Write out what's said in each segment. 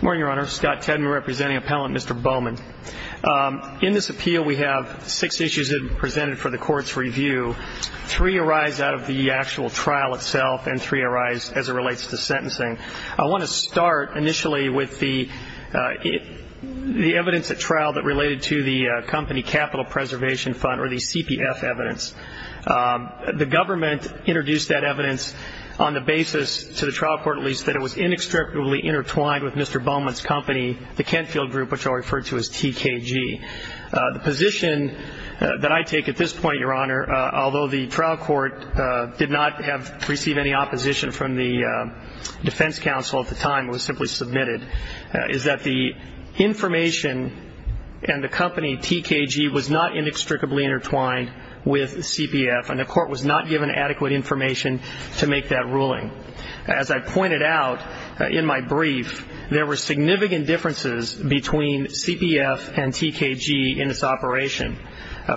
Morning your honor, Scott Tedman representing appellant Mr. Bowman. In this appeal we have six issues that are presented for the court's review. Three arise out of the actual trial itself and three arise as it relates to sentencing. I want to start initially with the evidence at trial that related to the company capital preservation fund or the CPF evidence. The government introduced that evidence on the basis, to the trial court at least, that it was inextricably intertwined with Mr. Bowman's company, the Kenfield Group, which I'll refer to as TKG. The position that I take at this point, your honor, although the trial court did not receive any opposition from the defense counsel at the time, it was simply submitted, is that the information and the company, TKG, was not inextricably intertwined with CPF and the court was not given adequate information to make that ruling. As I pointed out in my brief, there were significant differences between CPF and TKG in this operation.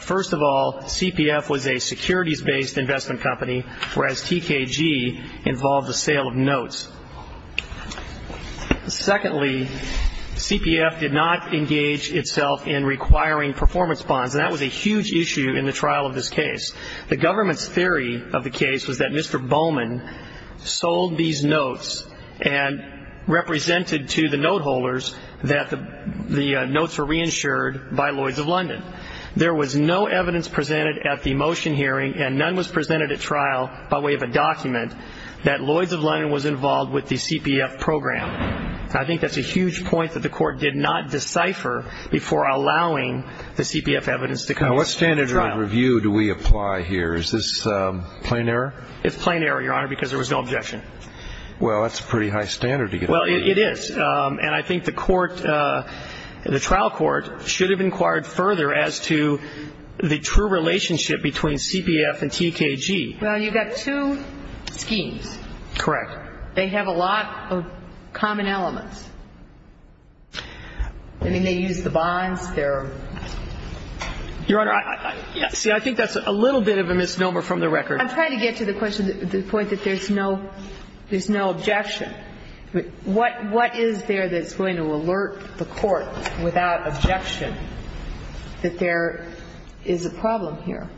First of all, CPF was a securities-based investment company, whereas TKG involved the sale of notes. Secondly, CPF did not engage itself in requiring performance bonds and that was a huge issue in the trial of this case. The government's theory of the case was that Mr. Bowman sold these notes and represented to the note holders that the notes were reinsured by Lloyds of London. There was no evidence presented at the motion hearing and none was presented at trial by way of a document that Lloyds of London was involved with the CPF program. I think that's a huge point that the court did not decipher before allowing the CPF evidence to come to trial. What kind of review do we apply here? Is this plain error? It's plain error, Your Honor, because there was no objection. Well, that's a pretty high standard to get. Well, it is. And I think the court, the trial court, should have inquired further as to the true relationship between CPF and TKG. Well, you've got two schemes. Correct. They have a lot of common elements. I mean, they use the bonds, they're... Your Honor, see, I think that's a little bit of a misnomer from the record. I'm trying to get to the point that there's no objection. What is there that's going to alert the court without objection that there is a problem here?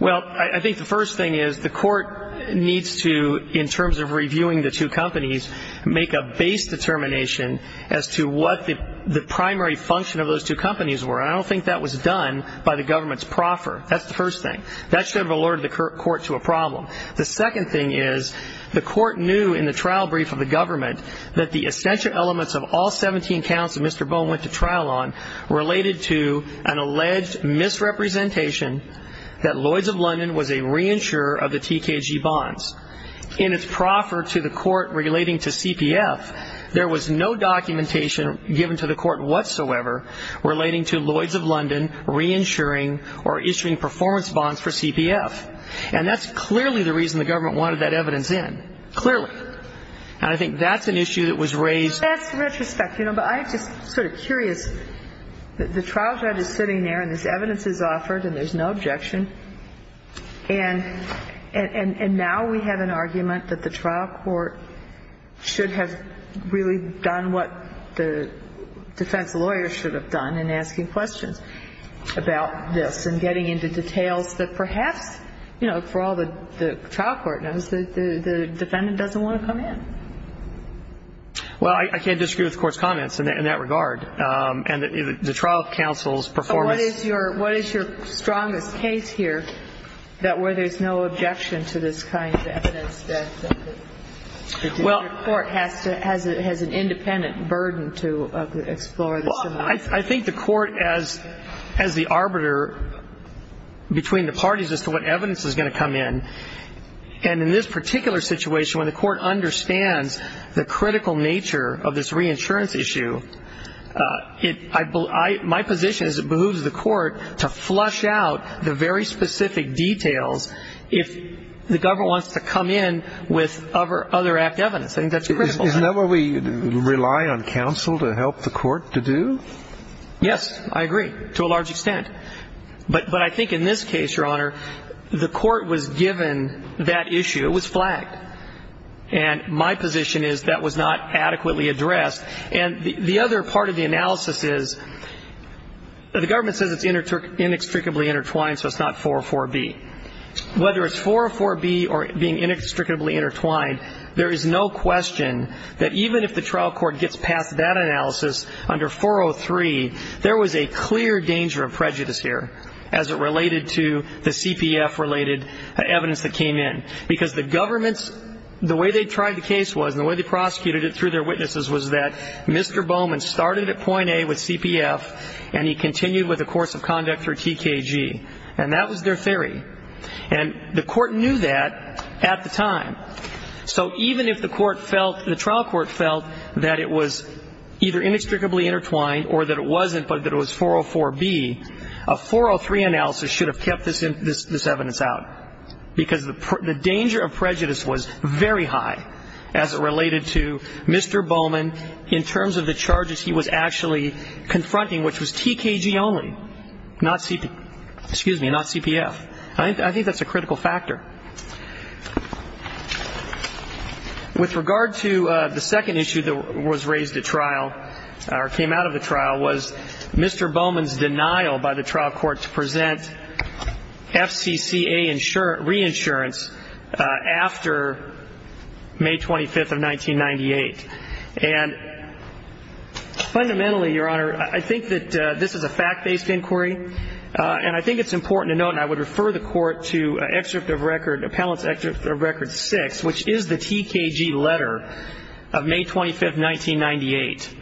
Well, I think the first thing is the court needs to, in terms of reviewing the two companies, make a base determination as to what the primary function of those two companies were. And I don't think that was done by the government's proffer. That's the first thing. That should have alerted the court to a problem. The second thing is the court knew in the trial brief of the government that the essential elements of all 17 counts that Mr. Bone went to trial on related to an alleged misrepresentation that Lloyds of London was a reinsurer of the TKG bonds. In its proffer to the court relating to CPF, there was no documentation given to the court whatsoever relating to Lloyds of London reinsuring or issuing performance bonds for CPF. And that's clearly the reason the government wanted that evidence in. Clearly. And I think that's an issue that was raised. That's retrospect. You know, but I'm just sort of curious. The trial judge is sitting there and this evidence is offered and there's no objection. And now we have an argument that the trial court should have really done what the defense lawyer should have done in asking questions about this and getting into details that perhaps, you know, for all the trial court knows, the defendant doesn't want to come in. Well, I can't disagree with the court's comments in that regard. And the trial counsel's performance. What is your strongest case here that where there's no objection to this kind of evidence that the court has an independent burden to explore this? I think the court, as the arbiter between the parties as to what evidence is going to come in. And in this particular situation, when the court understands the critical nature of this reinsurance issue, my position is it behooves the court to flush out the very specific details if the government wants to come in with other act evidence. I think that's critical. Isn't that what we rely on counsel to help the court to do? Yes. I agree. To a large extent. But I think in this case, Your Honor, the court was given that issue. It was flagged. And my position is that was not adequately addressed. And the other part of the analysis is, the government says it's inextricably intertwined, so it's not 404B. Whether it's 404B or being inextricably intertwined, there is no question that even if the trial court gets past that analysis under 403, there was a clear danger of prejudice here as it related to the CPF-related evidence that came in. Because the government's, the way they tried the case was, and the way they prosecuted it through their witnesses was that Mr. Bowman started at point A with CPF, and he continued with the course of conduct through TKG. And that was their theory. And the court knew that at the time. So even if the trial court felt that it was either inextricably intertwined or that it wasn't but that it was 404B, a 403 analysis should have kept this evidence out. Because the danger of prejudice was very high as it related to Mr. Bowman in terms of the charges he was actually confronting, which was TKG only, not CP, excuse me, not CPF. I think that's a critical factor. With regard to the second issue that was raised at trial, or came out of the trial, was Mr. Bowman's denial by the trial court to present FCCA reinsurance after May 25th of 1998. And fundamentally, Your Honor, I think that this is a fact-based inquiry, and I think it's important to note, and I would refer the court to excerpt of record, appellant's excerpt of record six, which is the TKG letter of May 25th, 1998.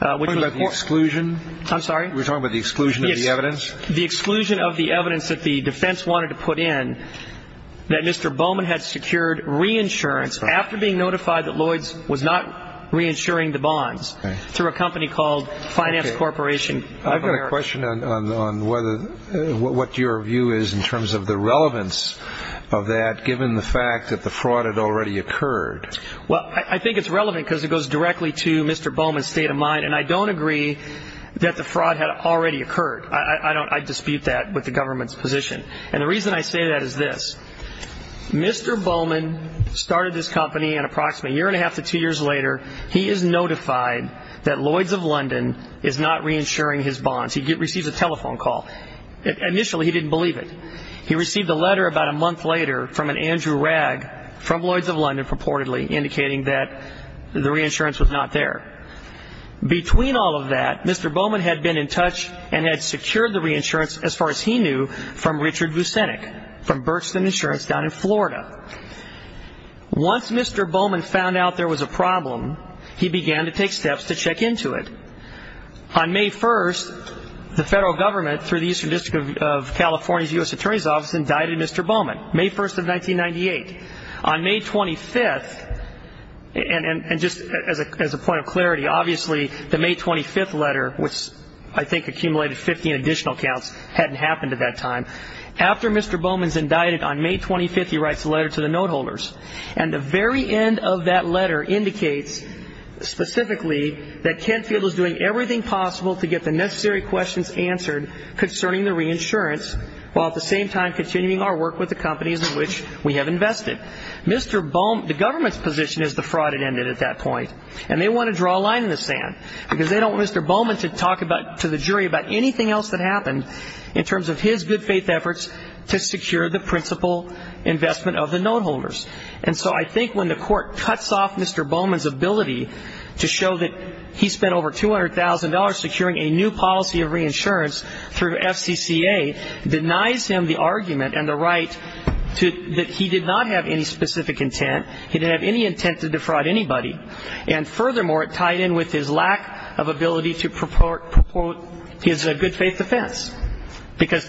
I'm talking about the exclusion? I'm sorry? We're talking about the exclusion of the evidence? Yes, the exclusion of the evidence that the defense wanted to put in that Mr. Bowman had secured reinsurance after being notified that Lloyds was not reinsuring the bonds through a company called Finance Corporation of America. I've got a question on what your view is in terms of the relevance of that, given the fact that the fraud had already occurred. Well, I think it's relevant because it goes directly to Mr. Bowman's state of mind, and I don't agree that the fraud had already occurred. I dispute that with the government's position. And the reason I say that is this. Mr. Bowman started this company, and approximately a year and a half to two years later, he is notified that Lloyds of London is not reinsuring his bonds. He receives a telephone call. Initially, he didn't believe it. He received a letter about a month later from an Andrew Rag from Lloyds of London, purportedly, indicating that the reinsurance was not there. Between all of that, Mr. Bowman had been in touch and had secured the reinsurance, as far as he knew, from Richard Vucinic, from Berkston Insurance down in Florida. Once Mr. Bowman found out there was a problem, he began to take steps to check into it. On May 1st, the federal government, through the Eastern District of California's U.S. Attorney's Office, indicted Mr. Bowman, May 1st of 1998. On May 25th, and just as a point of clarity, obviously the May 25th letter, which I think accumulated 15 additional counts, hadn't happened at that time. After Mr. Bowman's indicted on May 25th, he writes a letter to the note holders. And the very end of that letter indicates, specifically, that Kent Field is doing everything possible to get the necessary questions answered concerning the reinsurance, while at the same time continuing our work with the companies in which we have invested. Mr. Bowman, the government's position is the fraud had ended at that point, and they want to draw a line in the sand because they don't want Mr. Bowman to talk to the jury about anything else that happened in terms of his good faith efforts to secure the principal investment of the note holders. And so I think when the court cuts off Mr. Bowman's ability to show that he spent over $200,000 securing a new policy of reinsurance through FCCA, denies him the argument and the right that he did not have any specific intent, he didn't have any intent to defraud anybody. And furthermore, it tied in with his lack of ability to purport his good faith defense, because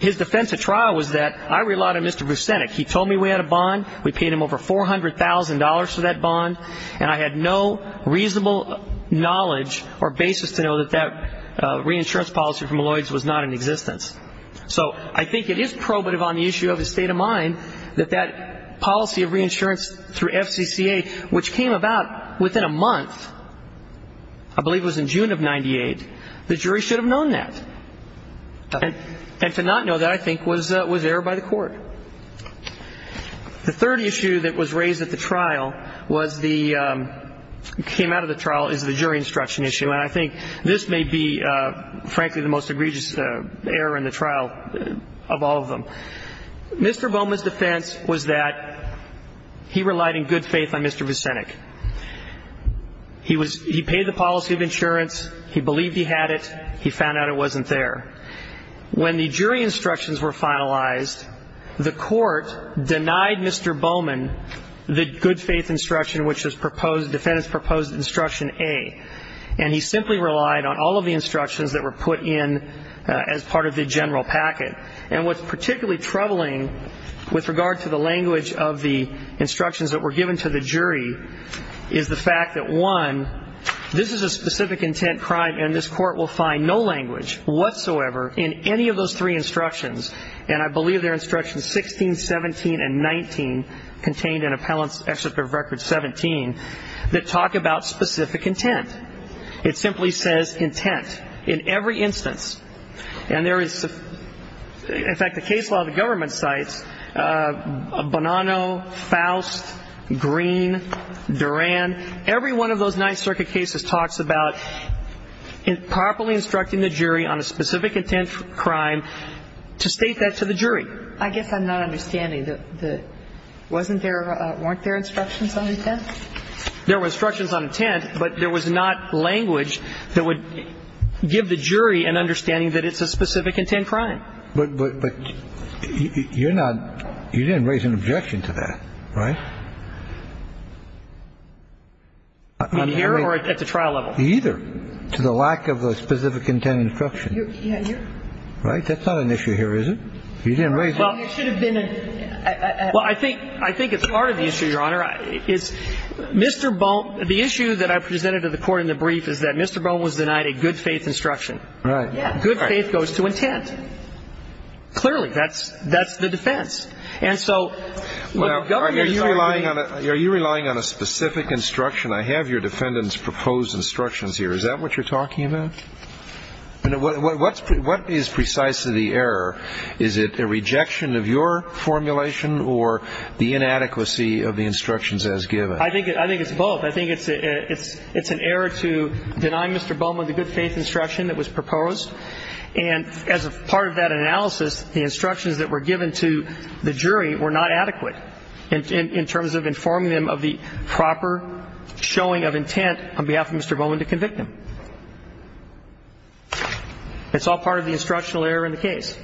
his defense at trial was that I relied on Mr. Vucinic. He told me we had a bond. We paid him over $400,000 for that bond, and I had no reasonable knowledge or basis to know that that reinsurance policy from Lloyds was not in existence. So I think it is probative on the issue of his state of mind that that policy of reinsurance through FCCA, which came about within a month, I believe it was in June of 98, the jury should have known that. And to not know that, I think, was error by the court. The third issue that was raised at the trial was the ñ came out of the trial is the jury instruction issue. And I think this may be, frankly, the most egregious error in the trial of all of them. Mr. Bowman's defense was that he relied in good faith on Mr. Vucinic. He paid the policy of insurance. He believed he had it. He found out it wasn't there. When the jury instructions were finalized, the court denied Mr. Bowman the good faith instruction, which was proposed, defendant's proposed instruction A. And he simply relied on all of the instructions that were put in as part of the general packet. And what's particularly troubling with regard to the language of the instructions that were given to the jury is the fact that, one, this is a specific intent crime, and this court will find no language whatsoever in any of those three instructions, and I believe they're instructions 16, 17, and 19, contained in Appellant's Excerpt of Record 17, that talk about specific intent. It simply says intent in every instance. And there is, in fact, the case law of the government cites Bonanno, Faust, Green, Duran. Every one of those Ninth Circuit cases talks about properly instructing the jury on a specific intent crime to state that to the jury. I guess I'm not understanding. Wasn't there or weren't there instructions on intent? There were instructions on intent, but there was not language that would give the jury an understanding that it's a specific intent crime. But you're not, you didn't raise an objection to that, right? On here or at the trial level? Either. To the lack of a specific intent instruction. Yeah, you're. Right? That's not an issue here, is it? You didn't raise it. It should have been a. Well, I think it's part of the issue, Your Honor. It's Mr. Bone. The issue that I presented to the court in the brief is that Mr. Bone was denied a good faith instruction. Right. Good faith goes to intent. Clearly, that's the defense. And so. Are you relying on a specific instruction? I have your defendant's proposed instructions here. Is that what you're talking about? What is precisely the error? Is it a rejection of your formulation or the inadequacy of the instructions as given? I think it's both. I think it's an error to deny Mr. Bowman the good faith instruction that was proposed. And as a part of that analysis, the instructions that were given to the jury were not adequate in terms of informing them of the proper showing of intent on behalf of Mr. Bowman to convict him. It's all part of the instructional error in the case.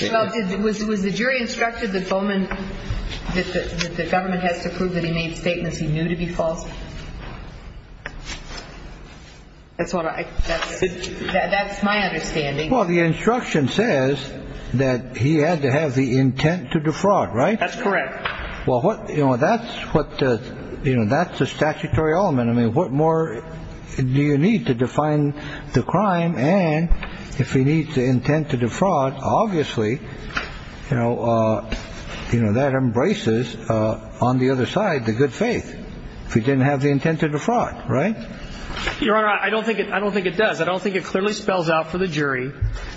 Well, it was it was the jury instructed that Bowman that the government has to prove that he made statements he knew to be false. That's what I said. That's my understanding. Well, the instruction says that he had to have the intent to defraud. Right. That's correct. Well, what you know, that's what you know, that's the statutory element. I mean, what more do you need to define the crime? And if he needs the intent to defraud, obviously, you know, you know, that embraces on the other side the good faith. If he didn't have the intent to defraud. Right. Your Honor, I don't think I don't think it does. I don't think it clearly spells out for the jury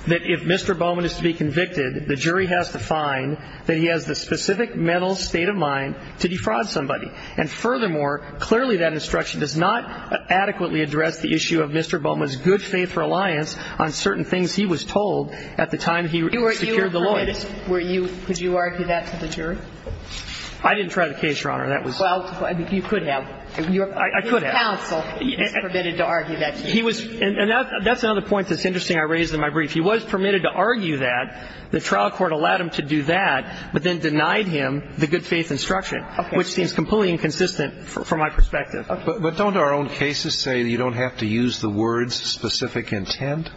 that if Mr. Bowman is to be convicted, the jury has to find that he has the specific mental state of mind to defraud somebody. And furthermore, clearly that instruction does not adequately address the issue of Mr. Bowman's good faith reliance on certain things he was told at the time he secured the lawyers. Were you could you argue that to the jury? I didn't try the case, Your Honor. That was. Well, you could have. I could have. His counsel is permitted to argue that. He was. And that's another point that's interesting. I raised in my brief. If he was permitted to argue that, the trial court allowed him to do that, but then denied him the good faith instruction, which seems completely inconsistent from my perspective. But don't our own cases say you don't have to use the words specific intent?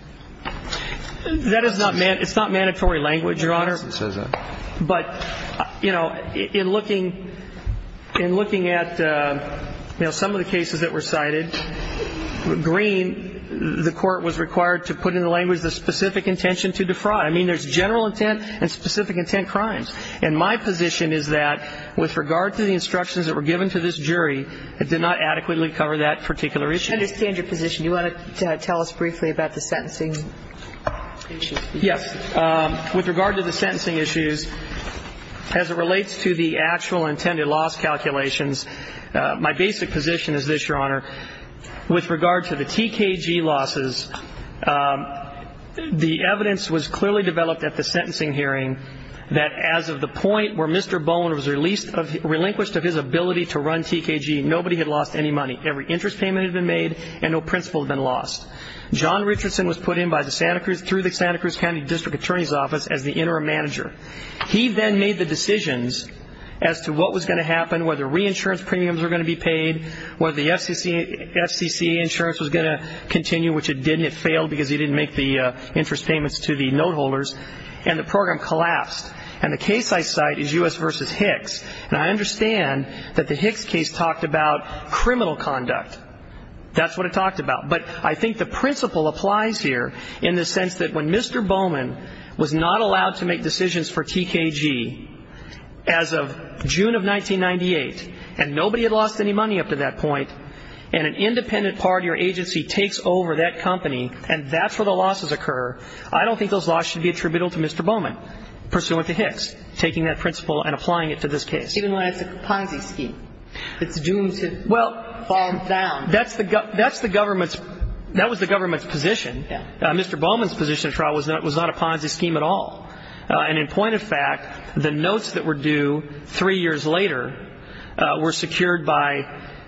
That is not mandatory. It's not mandatory language, Your Honor. Yes, it says that. But, you know, in looking in looking at, you know, some of the cases that were cited, I mean, there's general intent and specific intent crimes. And my position is that with regard to the instructions that were given to this jury, it did not adequately cover that particular issue. I understand your position. Do you want to tell us briefly about the sentencing issues? Yes. With regard to the sentencing issues, as it relates to the actual intended loss calculations, my basic position is this, Your Honor. With regard to the TKG losses, the evidence was clearly developed at the sentencing hearing that as of the point where Mr. Bowen was released, relinquished of his ability to run TKG, nobody had lost any money. Every interest payment had been made, and no principal had been lost. John Richardson was put in by the Santa Cruz, through the Santa Cruz County District Attorney's Office, as the interim manager. He then made the decisions as to what was going to happen, whether reinsurance premiums were going to be paid, whether the FCC insurance was going to continue, which it did, and it failed because he didn't make the interest payments to the note holders, and the program collapsed. And the case I cite is U.S. v. Hicks, and I understand that the Hicks case talked about criminal conduct. That's what it talked about. But I think the principle applies here in the sense that when Mr. Bowen was not allowed to make decisions for TKG, as of June of 1998, and nobody had lost any money up to that point, and an independent party or agency takes over that company, and that's where the losses occur, I don't think those losses should be attributable to Mr. Bowen, pursuant to Hicks taking that principle and applying it to this case. Even when it's a Ponzi scheme. It's doomed to, well, fall down. That's the government's, that was the government's position. Mr. Bowen's position of trial was not a Ponzi scheme at all. And in point of fact, the notes that were due three years later were secured by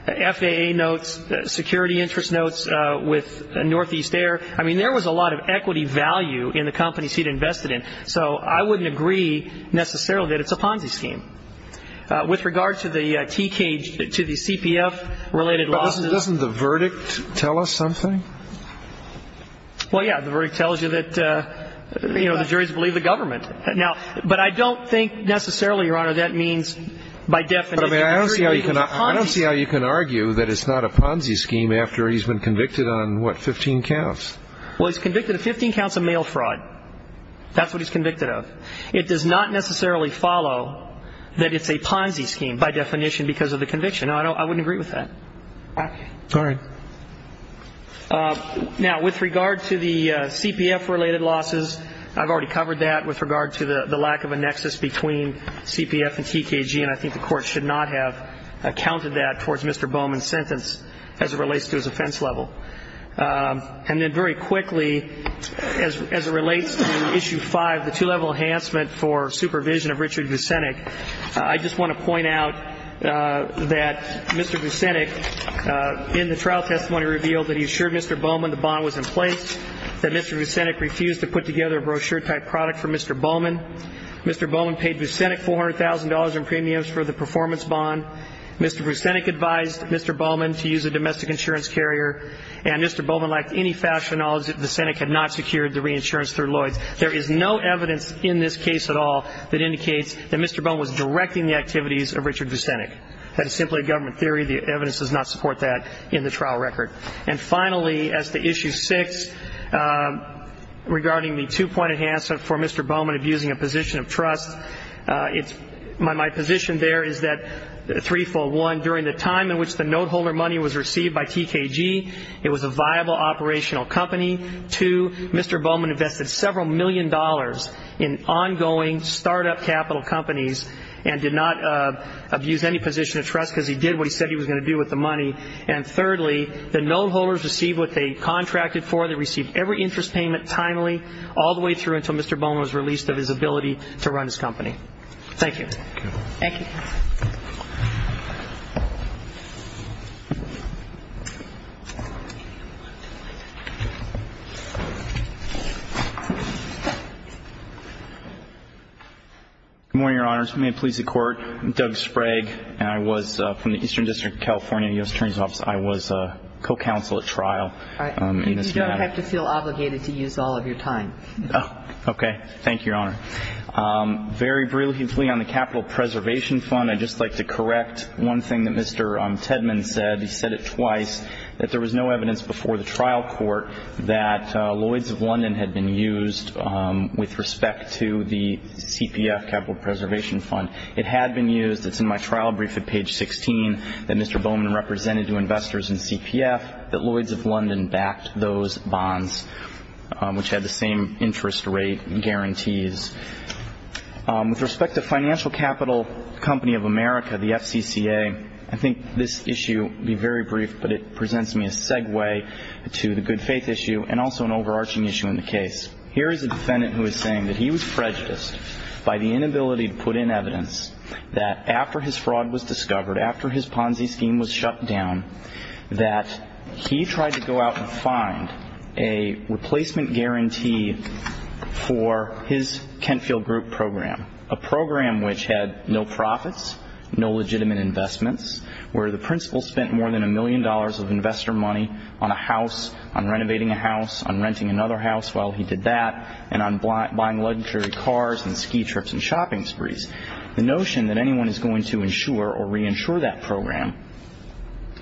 FAA notes, security interest notes with Northeast Air. I mean, there was a lot of equity value in the companies he'd invested in. So I wouldn't agree necessarily that it's a Ponzi scheme. With regard to the TKG, to the CPF-related losses. But doesn't the verdict tell us something? Well, yeah, the verdict tells you that, you know, the juries believe the government. Now, but I don't think necessarily, Your Honor, that means by definition. I don't see how you can argue that it's not a Ponzi scheme after he's been convicted on, what, 15 counts? Well, he's convicted of 15 counts of mail fraud. That's what he's convicted of. It does not necessarily follow that it's a Ponzi scheme by definition because of the conviction. I wouldn't agree with that. All right. Now, with regard to the CPF-related losses, I've already covered that with regard to the lack of a nexus between CPF and TKG, and I think the Court should not have counted that towards Mr. Bowman's sentence as it relates to his offense level. And then very quickly, as it relates to Issue 5, the two-level enhancement for supervision of Richard Vucinic, I just want to point out that Mr. Vucinic in the trial testimony revealed that he assured Mr. Bowman the bond was in place, that Mr. Vucinic refused to put together a brochure-type product for Mr. Bowman, Mr. Bowman paid Vucinic $400,000 in premiums for the performance bond, Mr. Vucinic advised Mr. Bowman to use a domestic insurance carrier, and Mr. Bowman lacked any factual knowledge that Vucinic had not secured the reinsurance through Lloyds. There is no evidence in this case at all that indicates that Mr. Bowman was directing the activities of Richard Vucinic. That is simply a government theory. The evidence does not support that in the trial record. And finally, as to Issue 6, regarding the two-point enhancement for Mr. Bowman abusing a position of trust, my position there is that threefold. One, during the time in which the note-holder money was received by TKG, it was a viable operational company. Two, Mr. Bowman invested several million dollars in ongoing startup capital companies and did not abuse any position of trust because he did what he said he was going to do with the money. And thirdly, the note-holders received what they contracted for. They received every interest payment timely all the way through until Mr. Bowman was released of his ability to run his company. Thank you. Good morning, Your Honors. May it please the Court. I'm Doug Sprague, and I was from the Eastern District of California, U.S. Attorney's Office. I was co-counsel at trial in this matter. You don't have to feel obligated to use all of your time. Oh, okay. I was a co-counsel at trial. I was a co-counsel at trial. I'd just like to correct one thing that Mr. Tedman said. He said it twice, that there was no evidence before the trial court that Lloyds of London had been used with respect to the CPF, Capital Preservation Fund. It had been used. It's in my trial brief at page 16 that Mr. Bowman represented to investors in CPF that Lloyds of London backed those bonds, which had the same interest rate guarantees. With respect to Financial Capital Company of America, the FCCA, I think this issue will be very brief, but it presents me a segue to the good faith issue and also an overarching issue in the case. Here is a defendant who is saying that he was prejudiced by the inability to put in evidence that after his fraud was discovered, after his Ponzi scheme was shut down, that he tried to go out and find a replacement guarantee for his Kentfield Group program, a program which had no profits, no legitimate investments, where the principal spent more than a million dollars of investor money on a house, on renovating a house, on renting another house while he did that, and on buying luxury cars and ski trips and shopping sprees. The notion that anyone is going to insure or reinsure that program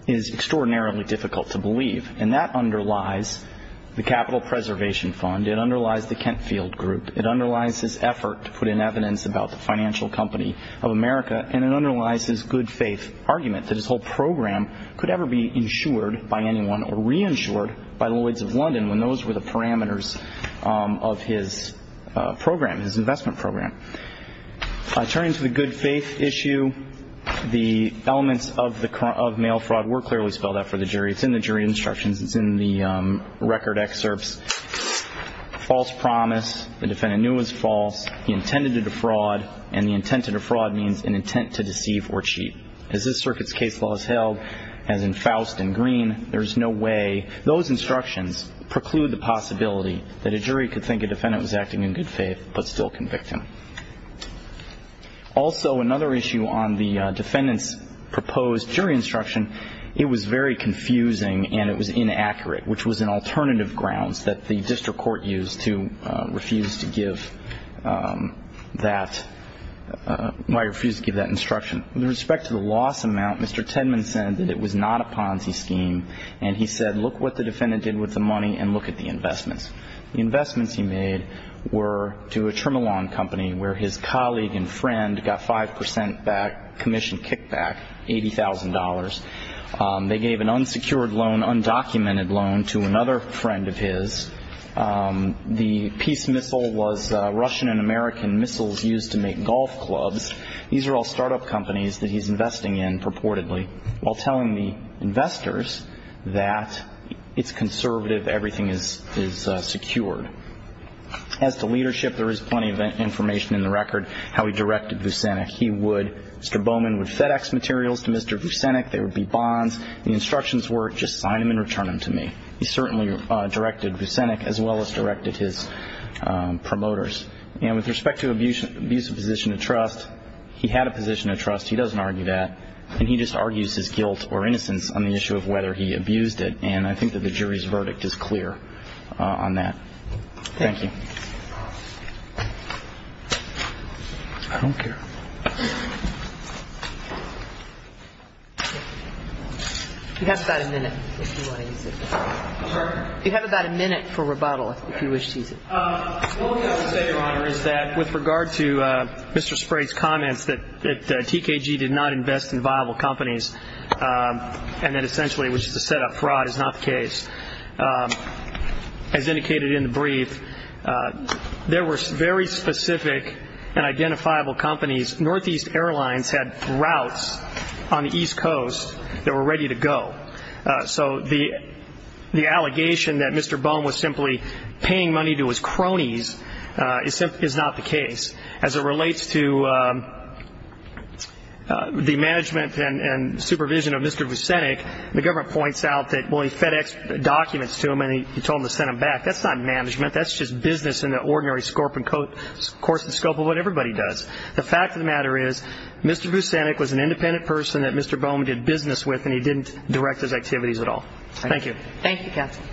is extraordinarily difficult to believe, and that underlies the Capital Preservation Fund. It underlies the Kentfield Group. It underlies his effort to put in evidence about the Financial Company of America, and it underlies his good faith argument that his whole program could ever be insured by anyone or reinsured by Lloyds of London when those were the parameters of his program, his investment program. Turning to the good faith issue, the elements of mail fraud were clearly spelled out for the jury. It's in the jury instructions. It's in the record excerpts. False promise, the defendant knew it was false. He intended to defraud, and the intent to defraud means an intent to deceive or cheat. As this circuit's case law is held, as in Faust and Green, there is no way those instructions preclude the possibility that a jury could think a defendant was acting in good faith but still convict him. Also, another issue on the defendant's proposed jury instruction, it was very confusing and it was inaccurate, which was an alternative grounds that the district court used to refuse to give that instruction. With respect to the loss amount, Mr. Tenman said that it was not a Ponzi scheme, and he said, look what the defendant did with the money and look at the investments. The investments he made were to a trim along company where his colleague and friend got 5% commission kickback, $80,000. They gave an unsecured loan, undocumented loan to another friend of his. The peace missile was Russian and American missiles used to make golf clubs. These are all start-up companies that he's investing in purportedly while telling the investors that it's conservative, everything is secured. As to leadership, there is plenty of information in the record how he directed Vucenic. He would, Mr. Bowman would FedEx materials to Mr. Vucenic, there would be bonds. The instructions were just sign them and return them to me. He certainly directed Vucenic as well as directed his promoters. And with respect to abusive position of trust, he had a position of trust, he doesn't argue that, and he just argues his guilt or innocence on the issue of whether he abused it, and I think that the jury's verdict is clear on that. Thank you. I don't care. You have about a minute if you want to use it. Pardon? You have about a minute for rebuttal if you wish to use it. All I can say, Your Honor, is that with regard to Mr. Sprague's comments that TKG did not invest in viable companies and that essentially it was just a set-up, fraud is not the case, as indicated in the brief, there were very specific and identifiable companies. Northeast Airlines had routes on the East Coast that were ready to go. So the allegation that Mr. Bohm was simply paying money to his cronies is not the case. As it relates to the management and supervision of Mr. Vucenic, the government points out that, well, he FedExed documents to him and he told him to send them back. That's not management, that's just business in the ordinary scope and course of what everybody does. The fact of the matter is Mr. Vucenic was an independent person that Mr. Bohm did business with and he didn't direct his activities at all. Thank you. Thank you, Captain.